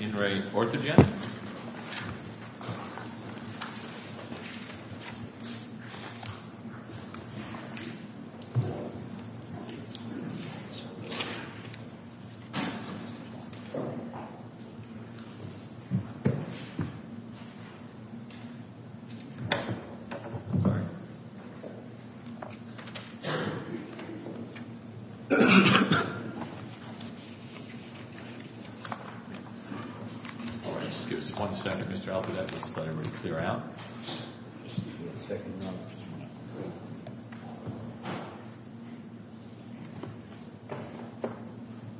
in a foreign proceeding in a foreign proceeding. All right, just give us one second, Mr. Altebette, let's let him clear out.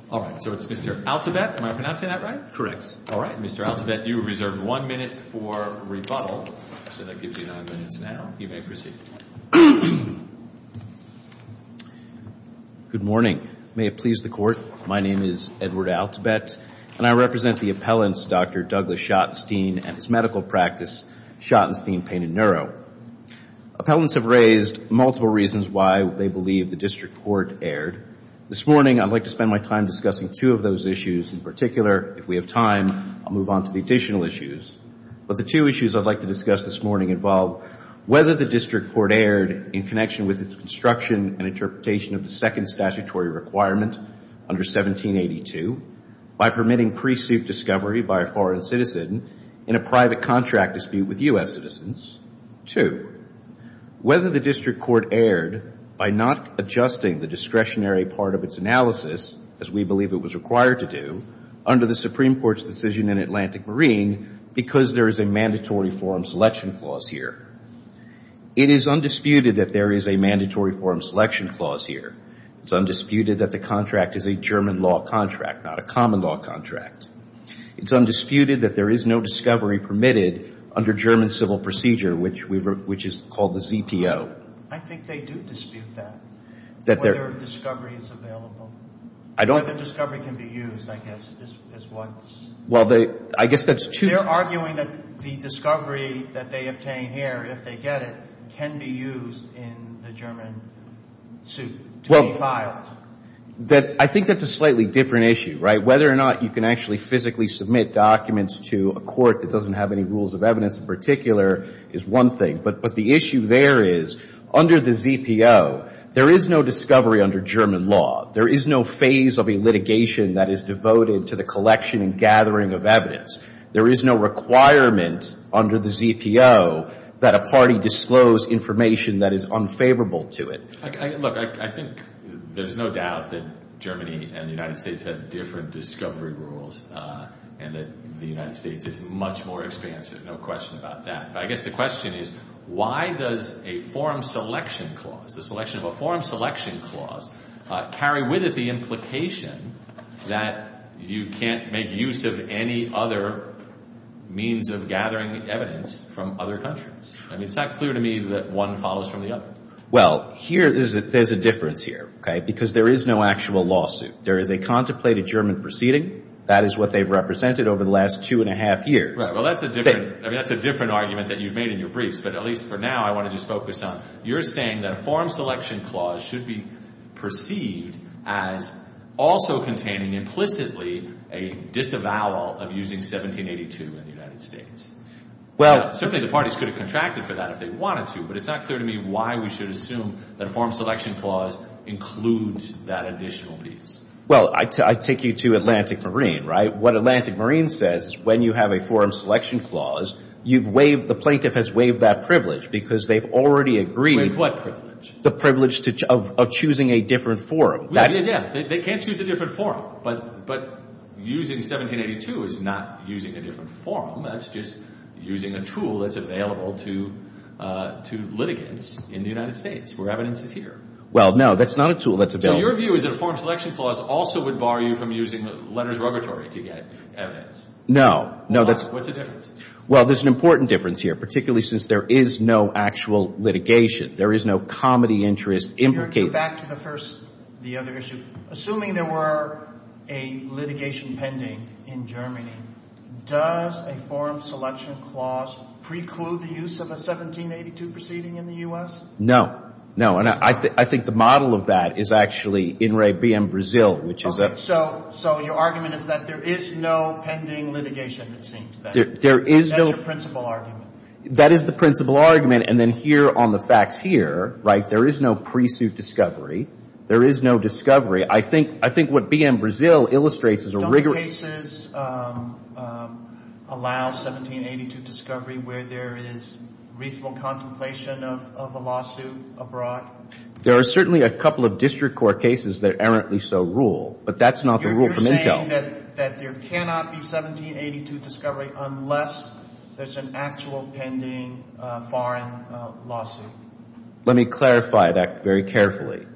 All right, so it's Mr. Altebette, am I pronouncing that right? Correct. All right, Mr. Altebette, you are reserved one minute for rebuttal, so that gives you nine minutes now. You may proceed. Good morning. May it please the Court, my name is Edward Altebette, and I represent the appellants Dr. Douglas Schottenstein and his medical practice, Schottenstein Pain and Neuro. Appellants have raised multiple reasons why they believe the district court erred. This morning, I'd like to spend my time discussing two of those issues. In particular, if we have time, I'll move on to the additional issues. But the two issues I'd like to discuss this morning involve whether the district court erred in connection with its construction and interpretation of the second statutory requirement under 1782 by permitting pre-suit discovery by a foreign citizen in a private contract dispute with U.S. citizens. Two, whether the district court erred by not adjusting the discretionary part of its analysis, as we believe it was required to do, under the Supreme Court's decision in Atlantic Marine, because there is a mandatory forum selection clause here. It is undisputed that there is a mandatory forum selection clause here. It's undisputed that the contract is a German law contract, not a common law contract. It's undisputed that there is no discovery permitted under German civil procedure, which is called the ZPO. I think they do dispute that, whether discovery is available. Whether discovery can be used, I guess, is what's – Well, I guess that's two – They're arguing that the discovery that they obtain here, if they get it, can be used in the German suit to be filed. I think that's a slightly different issue, right? Whether or not you can actually physically submit documents to a court that doesn't have any rules of evidence in particular is one thing. But the issue there is, under the ZPO, there is no discovery under German law. There is no phase of a litigation that is devoted to the collection and gathering of evidence. There is no requirement under the ZPO that a party disclose information that is unfavorable to it. Look, I think there's no doubt that Germany and the United States have different discovery rules and that the United States is much more expansive, no question about that. But I guess the question is, why does a forum selection clause, the selection of a forum selection clause, carry with it the implication that you can't make use of any other means of gathering evidence from other countries? I mean, it's not clear to me that one follows from the other. Well, here, there's a difference here, okay, because there is no actual lawsuit. There is a contemplated German proceeding. That is what they've represented over the last two and a half years. Well, that's a different argument that you've made in your briefs, but at least for now, I want to just focus on, you're saying that a forum selection clause should be perceived as also containing implicitly a disavowal of using 1782 in the United States. Certainly, the parties could have contracted for that if they wanted to, but it's not clear to me why we should assume that a forum selection clause includes that additional piece. Well, I take you to Atlantic Marine, right? What Atlantic Marine says is when you have a forum selection clause, you've waived, the plaintiff has waived that privilege because they've already agreed. Waived what privilege? The privilege of choosing a different forum. Yeah, they can't choose a different forum, but using 1782 is not using a different forum. That's just using a tool that's available to litigants in the United States where evidence is here. Well, no, that's not a tool that's available. So your view is that a forum selection clause also would bar you from using letters of repertory to get evidence? No. What's the difference? Well, there's an important difference here, particularly since there is no actual litigation. There is no comedy interest implicated. Back to the first, the other issue. Assuming there were a litigation pending in Germany, does a forum selection clause preclude the use of a 1782 proceeding in the U.S.? No. No, and I think the model of that is actually in re BM Brazil, which is a— Okay, so your argument is that there is no pending litigation, it seems, then. There is no— That's your principal argument. That is the principal argument, and then here on the facts here, right, there is no pre-suit discovery. There is no discovery. I think what BM Brazil illustrates is a rigorous— Do cases allow 1782 discovery where there is reasonable contemplation of a lawsuit abroad? There are certainly a couple of district court cases that errantly so rule, but that's not the rule from Intel. You're saying that there cannot be 1782 discovery unless there's an actual pending foreign lawsuit. Let me clarify that very carefully.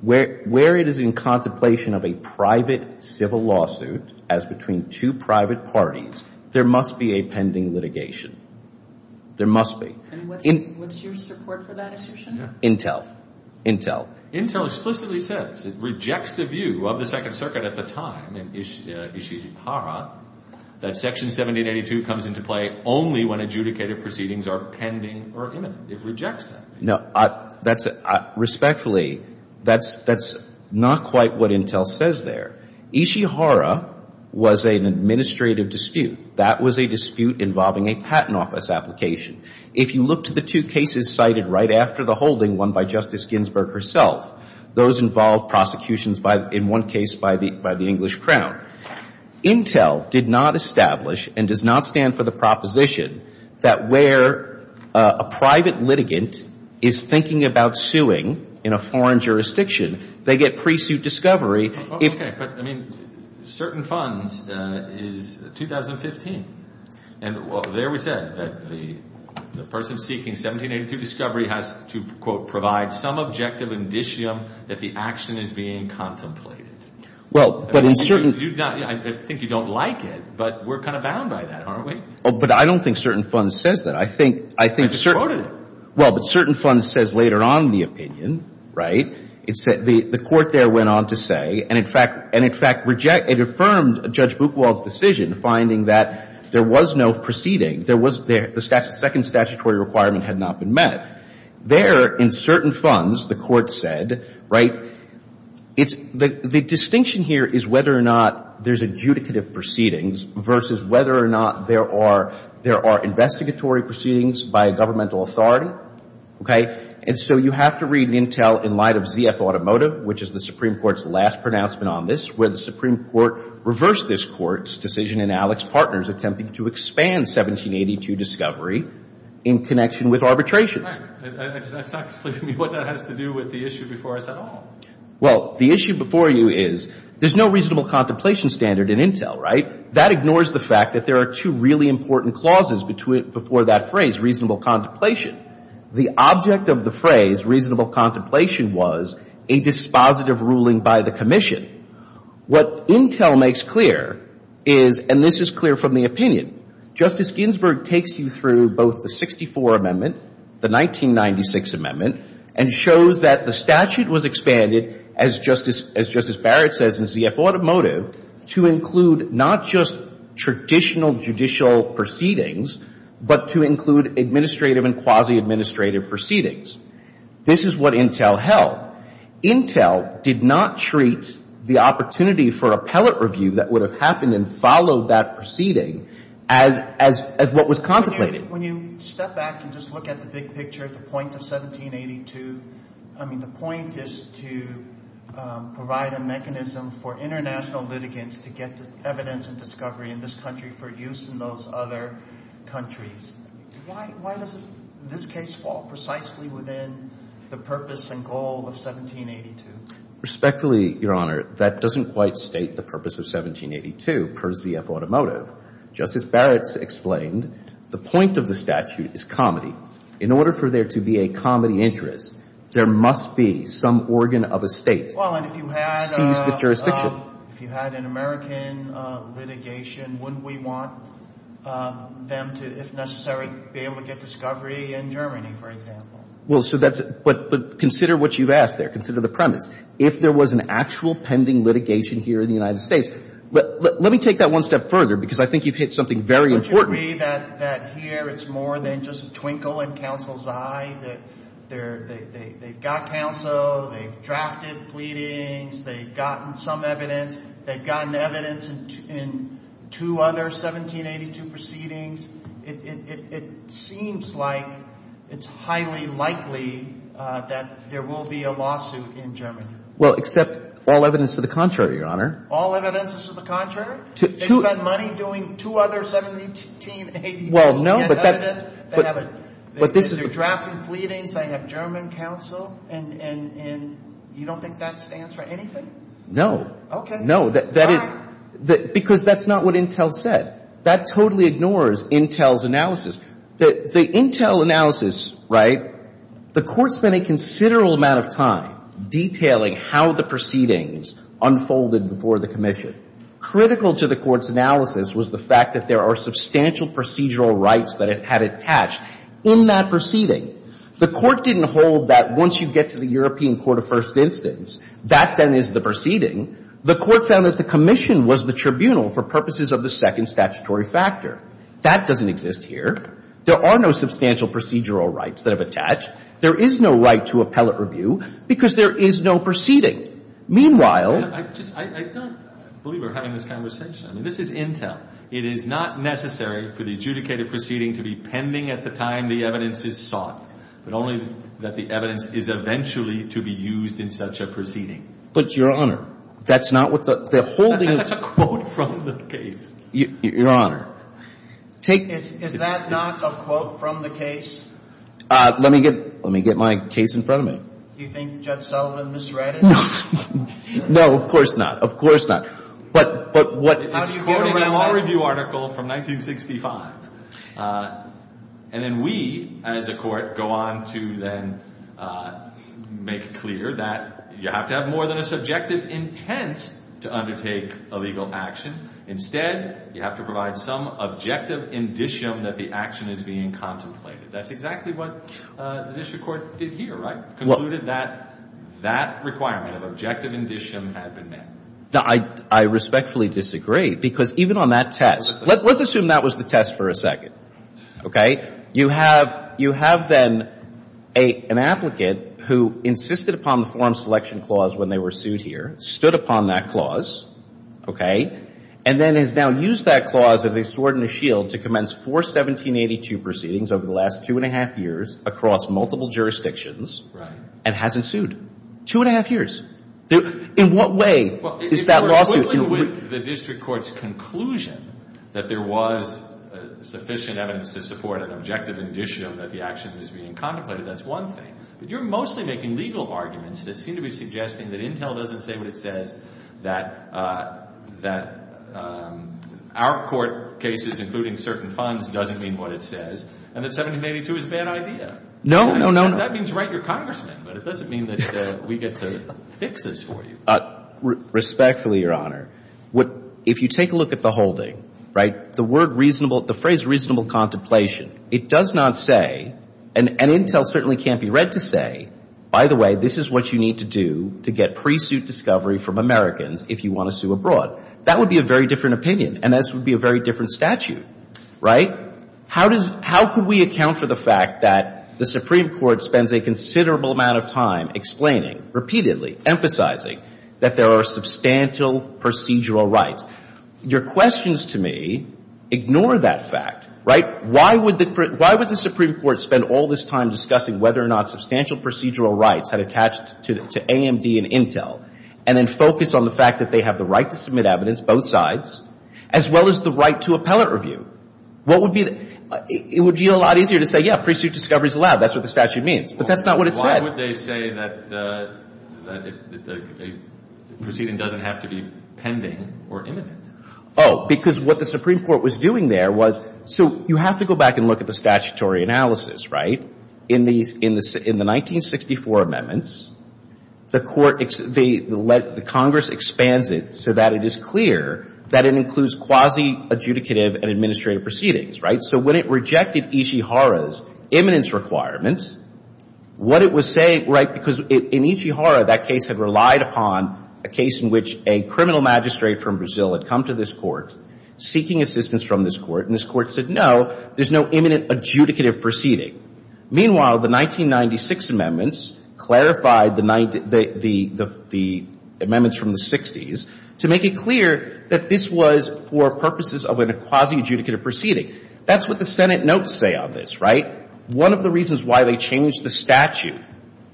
Where it is in contemplation of a private civil lawsuit as between two private parties, there must be a pending litigation. There must be. And what's your support for that assertion? Intel. Intel. Intel explicitly says, it rejects the view of the Second Circuit at the time in Ishihara that Section 1782 comes into play only when adjudicated proceedings are pending or imminent. It rejects that view. Respectfully, that's not quite what Intel says there. Ishihara was an administrative dispute. That was a dispute involving a patent office application. If you look to the two cases cited right after the holding, one by Justice Ginsburg herself, those involve prosecutions in one case by the English Crown. Intel did not establish and does not stand for the proposition that where a private litigant is thinking about suing in a foreign jurisdiction, they get pre-suit discovery. Okay. But, I mean, certain funds is 2015. And there we said that the person seeking 1782 discovery has to, quote, provide some objective indicium that the action is being contemplated. Well, but in certain I think you don't like it, but we're kind of bound by that, aren't we? Oh, but I don't think certain funds says that. I think But you quoted it. Well, but certain funds says later on in the opinion, right? The court there went on to say, and in fact, it affirmed Judge Buchwald's decision finding that there was no proceeding. The second statutory requirement had not been met. There, in certain funds, the court said, right, it's the distinction here is whether or not there's adjudicative proceedings versus whether or not there are investigatory proceedings by a governmental authority. Okay. And so you have to read Intel in light of ZF Automotive, which is the Supreme Court's last pronouncement on this, where the Supreme Court reversed this court's decision in Alex Partners, attempting to expand 1782 discovery in connection with arbitrations. That's not explaining to me what that has to do with the issue before us at all. Well, the issue before you is there's no reasonable contemplation standard in Intel, right? That ignores the fact that there are two really important clauses before that phrase, reasonable contemplation. The object of the phrase reasonable contemplation was a dispositive ruling by the commission. What Intel makes clear is, and this is clear from the opinion, Justice Ginsburg takes you through both the 64 Amendment, the 1996 Amendment, and shows that the statute was expanded, as Justice Barrett says in ZF Automotive, to include not just traditional judicial proceedings, but to include administrative and quasi-administrative proceedings. This is what Intel held. Intel did not treat the opportunity for appellate review that would have happened and followed that proceeding as what was contemplated. When you step back and just look at the big picture, the point of 1782, I mean, the point is to provide a mechanism for international litigants to get evidence and discovery in this country for use in those other countries. Why does this case fall precisely within the purpose and goal of 1782? Respectfully, Your Honor, that doesn't quite state the purpose of 1782 per ZF Automotive. Justice Barrett's explained the point of the statute is comedy. In order for there to be a comedy interest, there must be some organ of a State seized the jurisdiction. Well, and if you had an American litigation, wouldn't we want them to, if necessary, be able to get discovery in Germany, for example? Well, so that's – but consider what you've asked there. Consider the premise. If there was an actual pending litigation here in the United States – let me take that one step further because I think you've hit something very important. Would you agree that here it's more than just a twinkle in counsel's eye, that they've got counsel, they've drafted pleadings, they've gotten some evidence, they've gotten evidence in two other 1782 proceedings? It seems like it's highly likely that there will be a lawsuit in Germany. Well, except all evidence to the contrary, Your Honor. All evidence to the contrary? They've got money doing two other 1782s. Well, no, but that's – They have evidence. But this is – They're drafting pleadings. They have German counsel. And you don't think that stands for anything? No. Okay. Why? Because that's not what Intel said. That totally ignores Intel's analysis. The Intel analysis, right, the Court spent a considerable amount of time detailing how the proceedings unfolded before the commission. Critical to the Court's analysis was the fact that there are substantial procedural rights that it had attached in that proceeding. The Court didn't hold that once you get to the European court of first instance, that then is the proceeding. The Court found that the commission was the tribunal for purposes of the second statutory factor. That doesn't exist here. There are no substantial procedural rights that have attached. There is no right to appellate review because there is no proceeding. Meanwhile – I just – I don't believe we're having this conversation. I mean, this is Intel. It is not necessary for the adjudicated proceeding to be pending at the time the evidence is sought, but only that the evidence is eventually to be used in such a proceeding. But, Your Honor, that's not what the – the holding of – That's a quote from the case. Your Honor, take – Is that not a quote from the case? Let me get – let me get my case in front of me. Do you think Judge Sullivan misread it? No. No, of course not. Of course not. But what – It's quoting an all-review article from 1965. And then we, as a court, go on to then make clear that you have to have more than a subjective intent to undertake a legal action. Instead, you have to provide some objective indicium that the action is being contemplated. That's exactly what the district court did here, right, concluded that that requirement of objective indicium had been met. Now, I respectfully disagree, because even on that test – Let's assume that was the test for a second, okay? You have – you have then an applicant who insisted upon the forum selection clause when they were sued here, stood upon that clause, okay, and then has now used that clause as a sword and a shield to commence four 1782 proceedings over the last two and a half years across multiple jurisdictions and hasn't sued. Two and a half years. In what way is that lawsuit – Well, if we're dealing with the district court's conclusion that there was sufficient evidence to support an objective indicium that the action was being contemplated, that's one thing. But you're mostly making legal arguments that seem to be suggesting that Intel doesn't say what it says, that our court cases, including certain funds, doesn't mean what it says, and that 1782 is a bad idea. No, no, no, no. Well, that means write your congressman, but it doesn't mean that we get to fix this for you. Respectfully, Your Honor, if you take a look at the holding, right, the word reasonable – the phrase reasonable contemplation, it does not say – and Intel certainly can't be read to say, by the way, this is what you need to do to get pre-suit discovery from Americans if you want to sue abroad. That would be a very different opinion, and this would be a very different statute, right? How could we account for the fact that the Supreme Court spends a considerable amount of time explaining, repeatedly emphasizing that there are substantial procedural rights? Your questions to me ignore that fact, right? Why would the Supreme Court spend all this time discussing whether or not substantial procedural rights had attached to AMD and Intel and then focus on the fact that they have the right to submit evidence, both sides, as well as the right to appellate review? What would be the – it would be a lot easier to say, yeah, pre-suit discovery is allowed. That's what the statute means. But that's not what it said. Why would they say that a proceeding doesn't have to be pending or imminent? Oh, because what the Supreme Court was doing there was – so you have to go back and look at the statutory analysis, right? In the 1964 amendments, the court – the Congress expands it so that it is clear that it includes quasi-adjudicative and administrative proceedings, right? So when it rejected Ishihara's imminence requirements, what it was saying – right? Because in Ishihara, that case had relied upon a case in which a criminal magistrate from Brazil had come to this court seeking assistance from this court, and this court said, no, there's no imminent adjudicative proceeding. Meanwhile, the 1996 amendments clarified the amendments from the 60s to make it clear that this was for purposes of a quasi-adjudicative proceeding. That's what the Senate notes say on this, right? One of the reasons why they changed the statute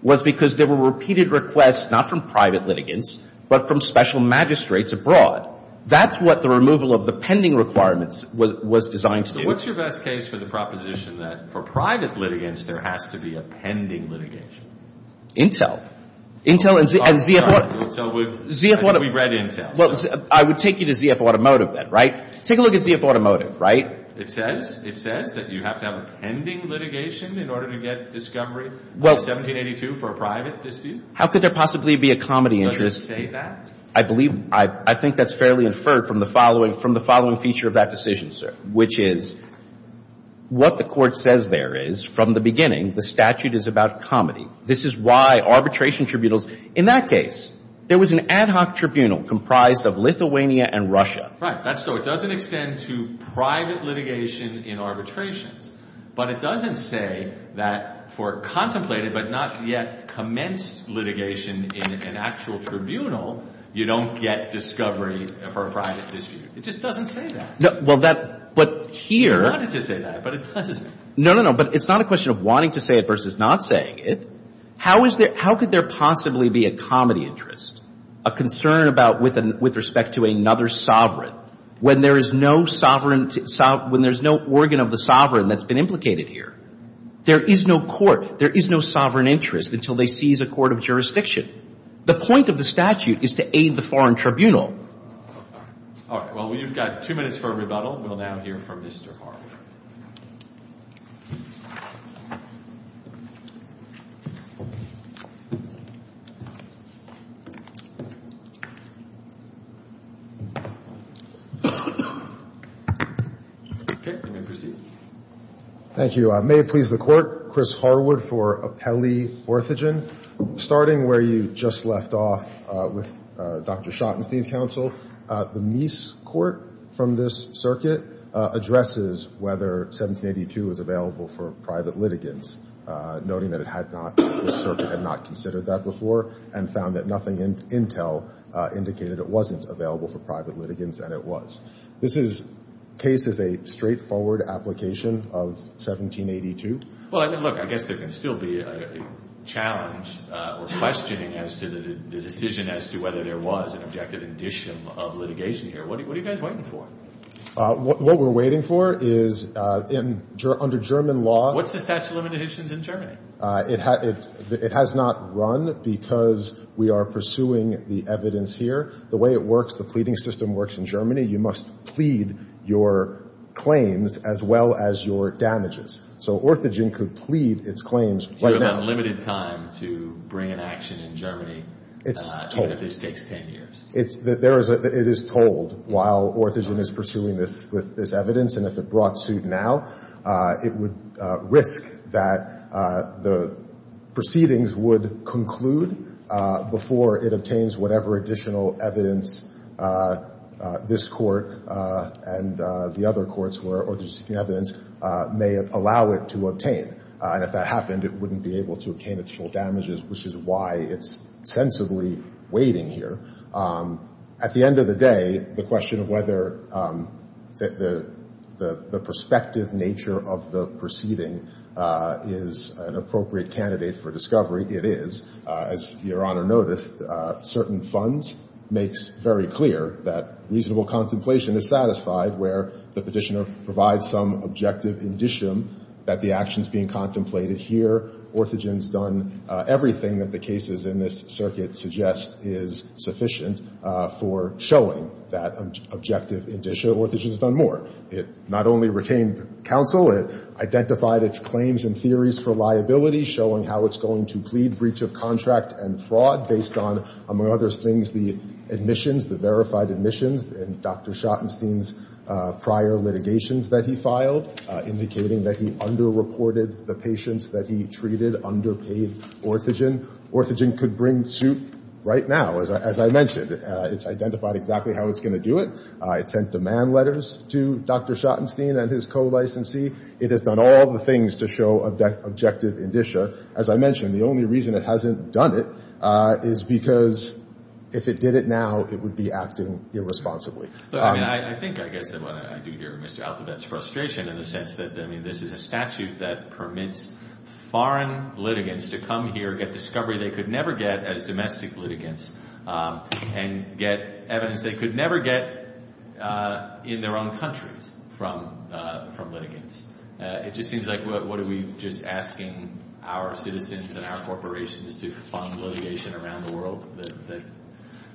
was because there were repeated requests, not from private litigants, but from special magistrates abroad. That's what the removal of the pending requirements was designed to do. What's your best case for the proposition that for private litigants, there has to be a pending litigation? Intel. Intel and ZF Automotive. So we've read Intel. Well, I would take you to ZF Automotive then, right? Take a look at ZF Automotive, right? It says that you have to have a pending litigation in order to get discovery in 1782 for a private dispute? How could there possibly be a comedy interest? Does it say that? I believe – I think that's fairly inferred from the following – from the following feature of that decision, sir, which is what the Court says there is, from the beginning, the statute is about comedy. This is why arbitration tribunals – in that case, there was an ad hoc tribunal comprised of Lithuania and Russia. Right. So it doesn't extend to private litigation in arbitrations. But it doesn't say that for contemplated but not yet commenced litigation in an actual tribunal, you don't get discovery for a private dispute. It just doesn't say that. Well, that – but here – It wanted to say that, but it doesn't. No, no, no. But it's not a question of wanting to say it versus not saying it. How is there – how could there possibly be a comedy interest, a concern about with respect to another sovereign, when there is no sovereign – when there's no organ of the sovereign that's been implicated here? There is no court. There is no sovereign interest until they seize a court of jurisdiction. The point of the statute is to aid the foreign tribunal. All right. Well, you've got two minutes for a rebuttal. We'll now hear from Mr. Harwood. Okay. You may proceed. Thank you. May it please the Court, Chris Harwood for Apelli Orthogen. Starting where you just left off with Dr. Schottenstein's counsel, the Meese court from this circuit addresses whether 1782 is available for private litigants, noting that it had not – this circuit had not considered that before and found that nothing in Intel indicated it wasn't available for private litigants, and it was. This is – case is a straightforward application of 1782. Well, look, I guess there can still be a challenge or questioning as to the decision as to whether there was an objective indicium of litigation here. What are you guys waiting for? What we're waiting for is under German law. What's the statute of limitations in Germany? It has not run because we are pursuing the evidence here. The way it works, the pleading system works in Germany. You must plead your claims as well as your damages. So Orthogen could plead its claims. Do you have unlimited time to bring an action in Germany even if this takes 10 years? It is told while Orthogen is pursuing this evidence, and if it brought suit now, it would risk that the proceedings would conclude before it obtains whatever additional evidence this court and the other courts where Orthogen is seeking evidence may allow it to obtain. And if that happened, it wouldn't be able to obtain its full damages, which is why it's sensibly waiting here. At the end of the day, the question of whether the prospective nature of the proceeding is an appropriate candidate for discovery, it is. As Your Honor noticed, certain funds makes very clear that reasonable contemplation is satisfied where the petitioner provides some objective indicium that the action's being contemplated here. Orthogen's done everything that the cases in this circuit suggest is sufficient for showing that objective indicium. Orthogen's done more. It not only retained counsel, it identified its claims and theories for liability, showing how it's going to plead breach of contract and fraud based on, among other things, the admissions, the verified admissions in Dr. Schottenstein's prior litigations that he filed, indicating that he underreported the patients that he treated underpaid Orthogen. Orthogen could bring suit right now, as I mentioned. It's identified exactly how it's going to do it. It sent demand letters to Dr. Schottenstein and his co-licensee. It has done all the things to show objective indicia. As I mentioned, the only reason it hasn't done it is because if it did it now, it would be acting irresponsibly. Look, I mean, I think I guess what I do hear Mr. Althovet's frustration in the sense that, I mean, this is a statute that permits foreign litigants to come here, get discovery they could never get as domestic litigants, and get evidence they could never get in their own countries from litigants. It just seems like what are we just asking our citizens and our corporations to fund litigation around the world?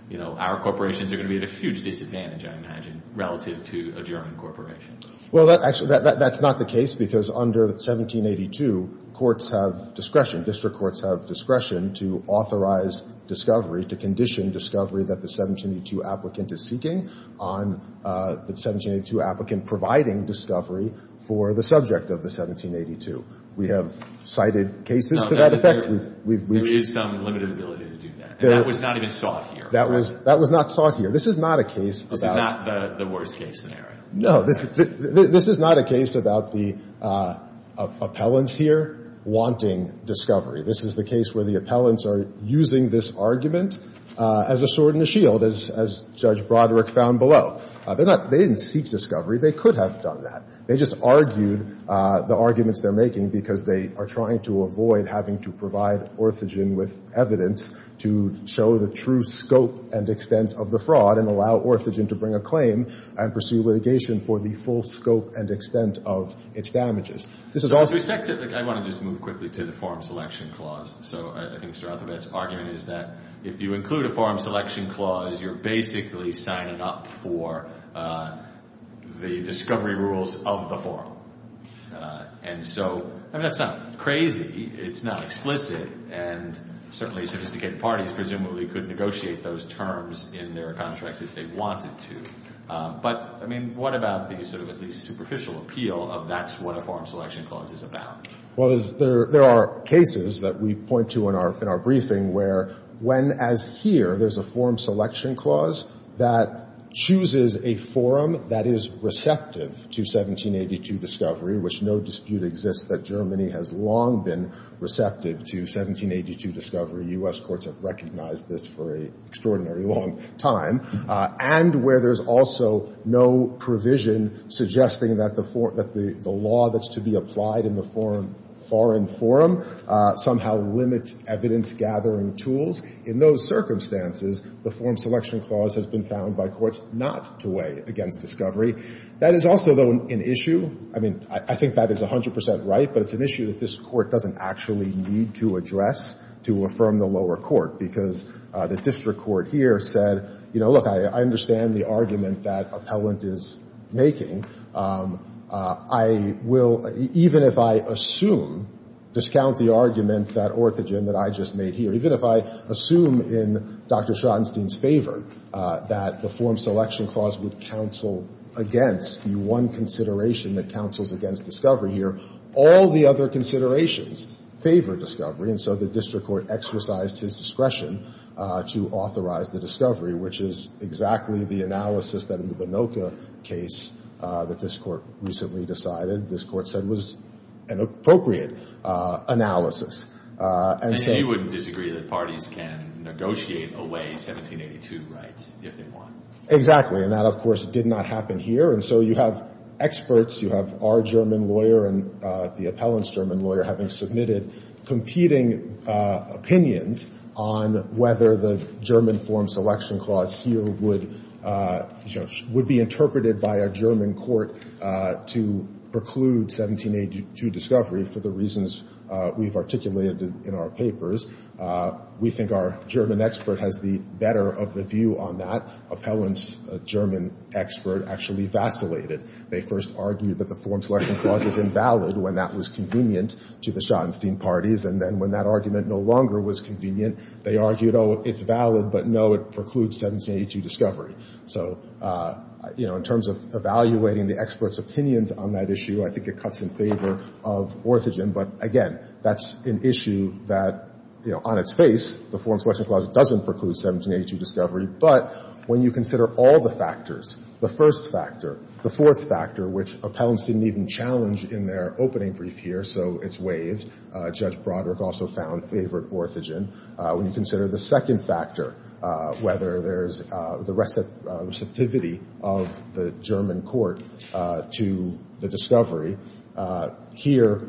You know, our corporations are going to be at a huge disadvantage, I imagine, relative to a German corporation. Well, actually, that's not the case because under 1782 courts have discretion, district courts have discretion to authorize discovery, to condition discovery that the 1782 applicant is seeking on the 1782 applicant providing discovery for the subject of the 1782. We have cited cases to that effect. There is some limited ability to do that. That was not even sought here. That was not sought here. This is not a case about – This is not the worst case scenario. No, this is not a case about the appellants here wanting discovery. This is the case where the appellants are using this argument as a sword and a shield, as Judge Broderick found below. They didn't seek discovery. They could have done that. They just argued the arguments they're making because they are trying to avoid having to provide orthogen with evidence to show the true scope and extent of the fraud and allow orthogen to bring a claim and pursue litigation for the full scope and extent of its damages. This is also – With respect to – I want to just move quickly to the Forum Selection Clause. So I think Sir Althafed's argument is that if you include a Forum Selection Clause, you're basically signing up for the discovery rules of the forum. And so, I mean, that's not crazy. It's not explicit. And certainly sophisticated parties presumably could negotiate those terms in their contracts if they wanted to. But, I mean, what about the sort of at least superficial appeal of that's what a Forum Selection Clause is about? Well, there are cases that we point to in our briefing where when, as here, there's a Forum Selection Clause that chooses a forum that is receptive to 1782 discovery, which no dispute exists that Germany has long been receptive to 1782 discovery. U.S. courts have recognized this for an extraordinary long time. And where there's also no provision suggesting that the law that's to be applied in the foreign forum somehow limits evidence-gathering tools, in those circumstances, the Forum Selection Clause has been found by courts not to weigh against discovery. That is also, though, an issue. I mean, I think that is 100 percent right, but it's an issue that this Court doesn't actually need to address to affirm the lower court, because the district court here said, you know, look, I understand the argument that appellant is making. I will, even if I assume, discount the argument, that orthogen, that I just made here. Even if I assume in Dr. Schottenstein's favor that the Forum Selection Clause would counsel against the one consideration that counsels against discovery here, all the other considerations favor discovery. And so the district court exercised his discretion to authorize the discovery, which is exactly the analysis that in the Bonocca case that this Court recently decided, this Court said was an appropriate analysis. And so you wouldn't disagree that parties can negotiate away 1782 rights if they want. Exactly. And that, of course, did not happen here. And so you have experts, you have our German lawyer and the appellant's German lawyer, having submitted competing opinions on whether the German Forum Selection Clause here would, you know, would be interpreted by a German court to preclude 1782 discovery for the reasons we've articulated in our papers. We think our German expert has the better of the view on that. Appellant's German expert actually vacillated. They first argued that the Forum Selection Clause is invalid when that was convenient to the Schottenstein parties, and then when that argument no longer was convenient, they argued, oh, it's valid, but no, it precludes 1782 discovery. So, you know, in terms of evaluating the experts' opinions on that issue, I think it cuts in favor of Orthogen. But, again, that's an issue that, you know, on its face, the Forum Selection Clause doesn't preclude 1782 discovery. But when you consider all the factors, the first factor, the fourth factor, which appellants didn't even challenge in their opening brief here, so it's waived, Judge Broderick also found favored Orthogen. When you consider the second factor, whether there's the receptivity of the German court to the discovery, here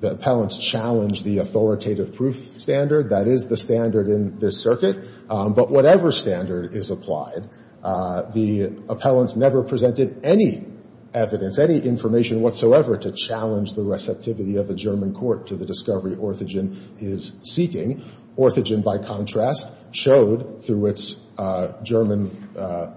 the appellants challenge the authoritative proof standard. That is the standard in this circuit. But whatever standard is applied, the appellants never presented any evidence, any information whatsoever to challenge the receptivity of the German court to the discovery Orthogen is seeking. Orthogen, by contrast, showed through its German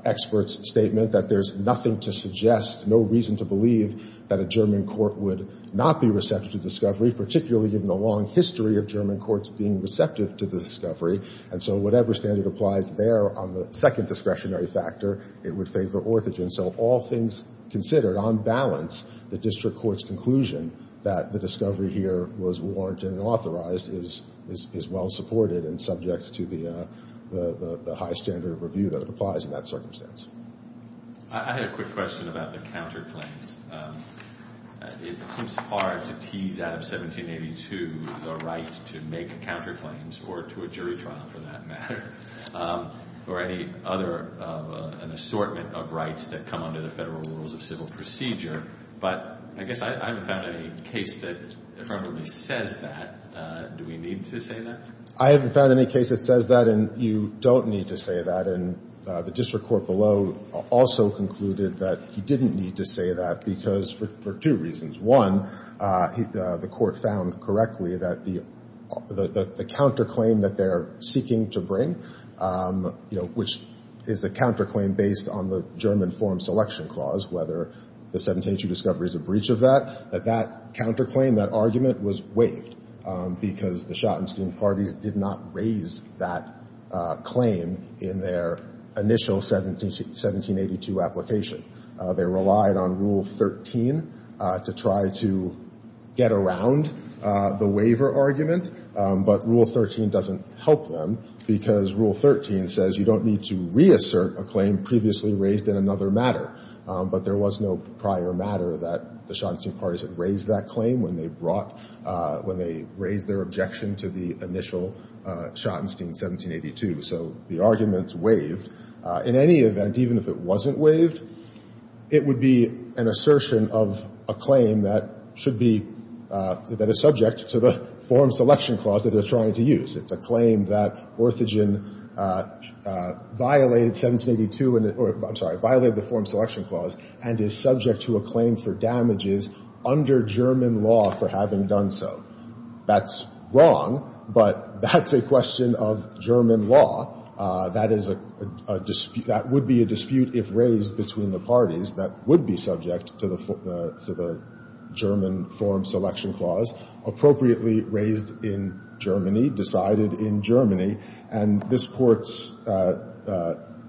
experts' statement that there's nothing to suggest, no reason to believe that a German court would not be receptive to discovery, particularly given the long history of German courts being receptive to the discovery. And so whatever standard applies there on the second discretionary factor, it would favor Orthogen. So all things considered, on balance, the district court's conclusion that the discovery here was warranted and authorized is well supported and subject to the high standard of review that applies in that circumstance. I had a quick question about the counterclaims. It seems hard to tease out of 1782 the right to make counterclaims or to a jury trial for that matter or any other assortment of rights that come under the Federal Rules of Civil Procedure. But I guess I haven't found any case that affirmatively says that. Do we need to say that? I haven't found any case that says that, and you don't need to say that. And the district court below also concluded that you didn't need to say that because for two reasons. One, the court found correctly that the counterclaim that they're seeking to bring, you know, which is a counterclaim based on the German form selection clause, whether the 1782 discovery is a breach of that, that that counterclaim, that argument was waived because the Schottenstein parties did not raise that claim in their initial 1782 application. They relied on Rule 13 to try to get around the waiver argument. But Rule 13 doesn't help them because Rule 13 says you don't need to reassert a claim previously raised in another matter. But there was no prior matter that the Schottenstein parties had raised that claim when they brought, when they raised their objection to the initial Schottenstein in 1782. So the argument's waived. In any event, even if it wasn't waived, it would be an assertion of a claim that should be, that is subject to the form selection clause that they're trying to use. It's a claim that Orthogen violated 1782, or I'm sorry, violated the form selection clause and is subject to a claim for damages under German law for having done so. That's wrong, but that's a question of German law. That is a dispute, that would be a dispute if raised between the parties that would be subject to the, to the German form selection clause appropriately raised in Germany, decided in Germany. And this Court's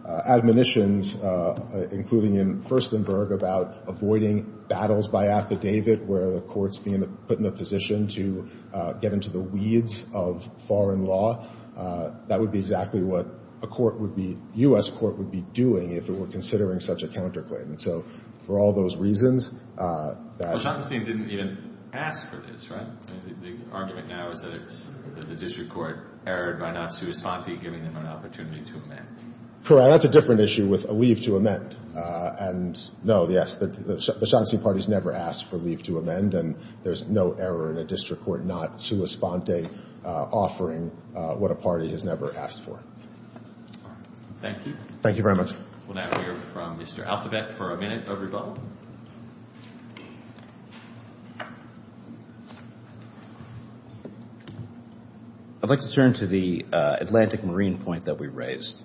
admonitions, including in Furstenberg, about avoiding battles by affidavit where the Court's being put in a position to get into the weeds of foreign law, that would be exactly what a Court would be, U.S. Court would be doing if it were considering such a counterclaim. And so for all those reasons, that — Well, Schottenstein didn't even ask for this, right? I mean, the argument now is that it's, that the district court erred by not sui sponte, giving them an opportunity to amend. Correct. That's a different issue with a leave to amend. And no, yes, the Schottenstein party's never asked for leave to amend, and there's no error in a district court not sui sponte, offering what a party has never asked for. Thank you. Thank you very much. We'll now hear from Mr. Altebeck for a minute. Over to you both. I'd like to turn to the Atlantic Marine point that we raised.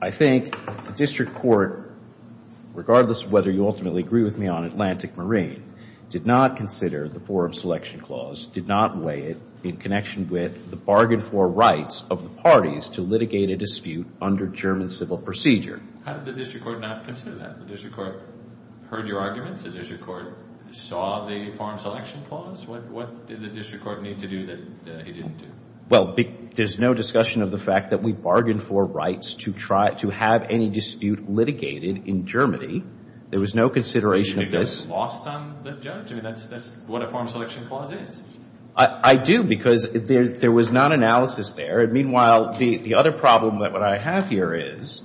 I think the district court, regardless of whether you ultimately agree with me on Atlantic Marine, did not consider the forum selection clause, did not weigh it in connection with the bargain for rights of the parties to litigate a dispute under German civil procedure. How did the district court not consider that? The district court heard your arguments? The district court saw the forum selection clause? What did the district court need to do that he didn't do? Well, there's no discussion of the fact that we bargained for rights to have any dispute litigated in Germany. There was no consideration of this. You just lost on the judge. I mean, that's what a forum selection clause is. I do, because there was not analysis there. And meanwhile, the other problem that I have here is,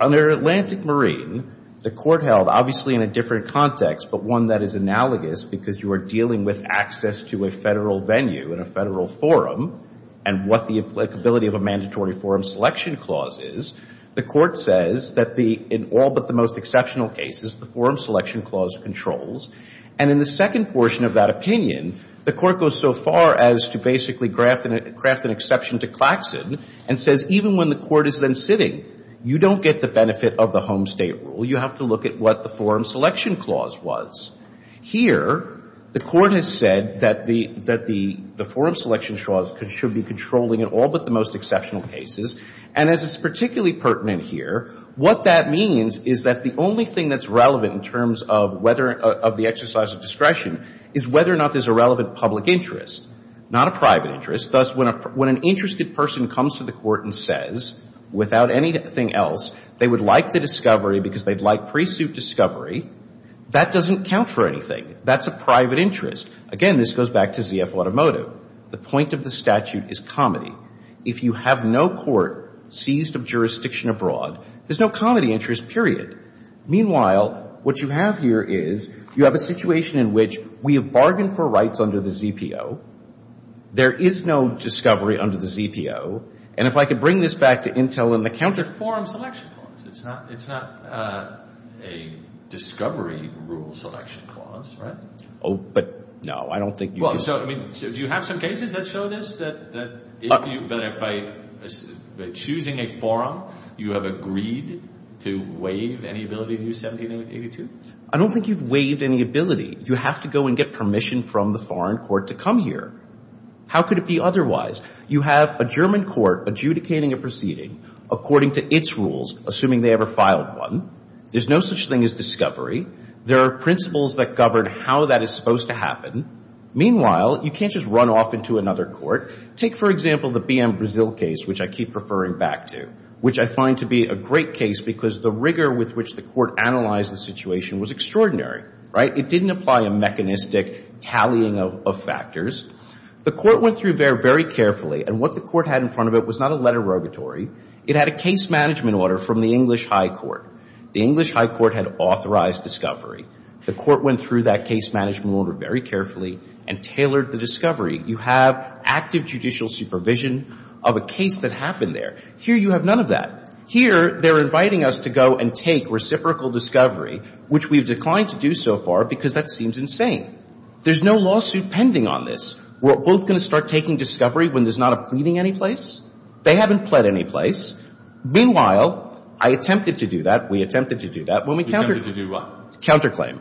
under Atlantic Marine, the court held, obviously in a different context, but one that is analogous, because you are dealing with access to a federal venue and a federal forum and what the applicability of a mandatory forum selection clause is, the court says that in all but the most exceptional cases, the forum selection clause controls. And in the second portion of that opinion, the court goes so far as to basically craft an exception to Claxon and says, even when the court is then sitting, you don't get the benefit of the home state rule. You have to look at what the forum selection clause was. Here, the court has said that the forum selection clause should be controlling in all but the most exceptional cases. And as is particularly pertinent here, what that means is that the only thing that's relevant in terms of whether of the exercise of discretion is whether or not there's a relevant public interest, not a private interest. Thus, when an interested person comes to the court and says, without anything else, they would like the discovery because they'd like pre-suit discovery, that doesn't count for anything. That's a private interest. Again, this goes back to ZF Automotive. The point of the statute is comedy. If you have no court seized of jurisdiction abroad, there's no comedy interest, period. Meanwhile, what you have here is you have a situation in which we have bargained for rights under the ZPO. There is no discovery under the ZPO. And if I could bring this back to Intel in the counter, forum selection clause. It's not a discovery rule selection clause, right? Oh, but no. I don't think you do. Well, so, I mean, do you have some cases that show this? That if you, that if I, choosing a forum, you have agreed to waive any ability to use 1782? I don't think you've waived any ability. You have to go and get permission from the foreign court to come here. How could it be otherwise? You have a German court adjudicating a proceeding according to its rules, assuming they ever filed one. There's no such thing as discovery. There are principles that govern how that is supposed to happen. Meanwhile, you can't just run off into another court. Take, for example, the BM Brazil case, which I keep referring back to, which I find to be a great case because the rigor with which the court analyzed the situation was extraordinary, right? It didn't apply a mechanistic tallying of factors. The court went through there very carefully. And what the court had in front of it was not a letter rogatory. It had a case management order from the English High Court. The English High Court had authorized discovery. The court went through that case management order very carefully and tailored the discovery. You have active judicial supervision of a case that happened there. Here you have none of that. Here they're inviting us to go and take reciprocal discovery, which we've declined to do so far because that seems insane. There's no lawsuit pending on this. We're both going to start taking discovery when there's not a pleading anyplace? They haven't pled anyplace. Meanwhile, I attempted to do that. We attempted to do that. We attempted to do what? Counterclaim,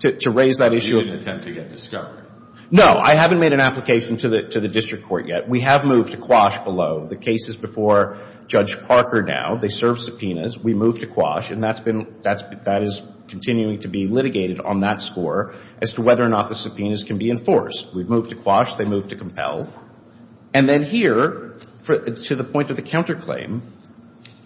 to raise that issue of the discovery. You didn't attempt to get discovery. No. I haven't made an application to the district court yet. We have moved to quash below. The case is before Judge Parker now. They serve subpoenas. We moved to quash. And that's been — that is continuing to be litigated on that score as to whether or not the subpoenas can be enforced. We've moved to quash. They've moved to compel. And then here, to the point of the counterclaim,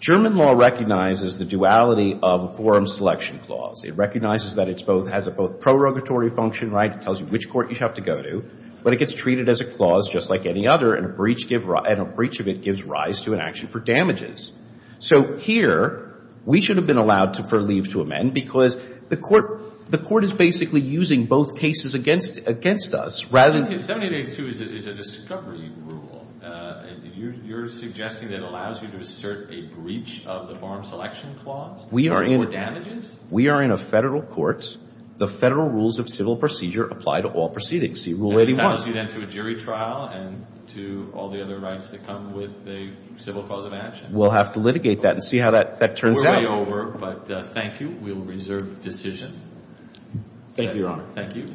German law recognizes the duality of forum selection clause. It recognizes that it's both — has a both prorogatory function, right? It tells you which court you have to go to. But it gets treated as a clause just like any other, and a breach of it gives rise to an action for damages. So here, we should have been allowed to leave to amend because the court is basically using both cases against us rather than — 7882 is a discovery rule. You're suggesting that it allows you to assert a breach of the forum selection clause for damages? We are in a federal court. The federal rules of civil procedure apply to all proceedings. See Rule 81. And it allows you then to a jury trial and to all the other rights that come with a civil cause of action. We'll have to litigate that and see how that turns out. We're way over, but thank you. We'll reserve the decision. Thank you, Your Honor. Thank you.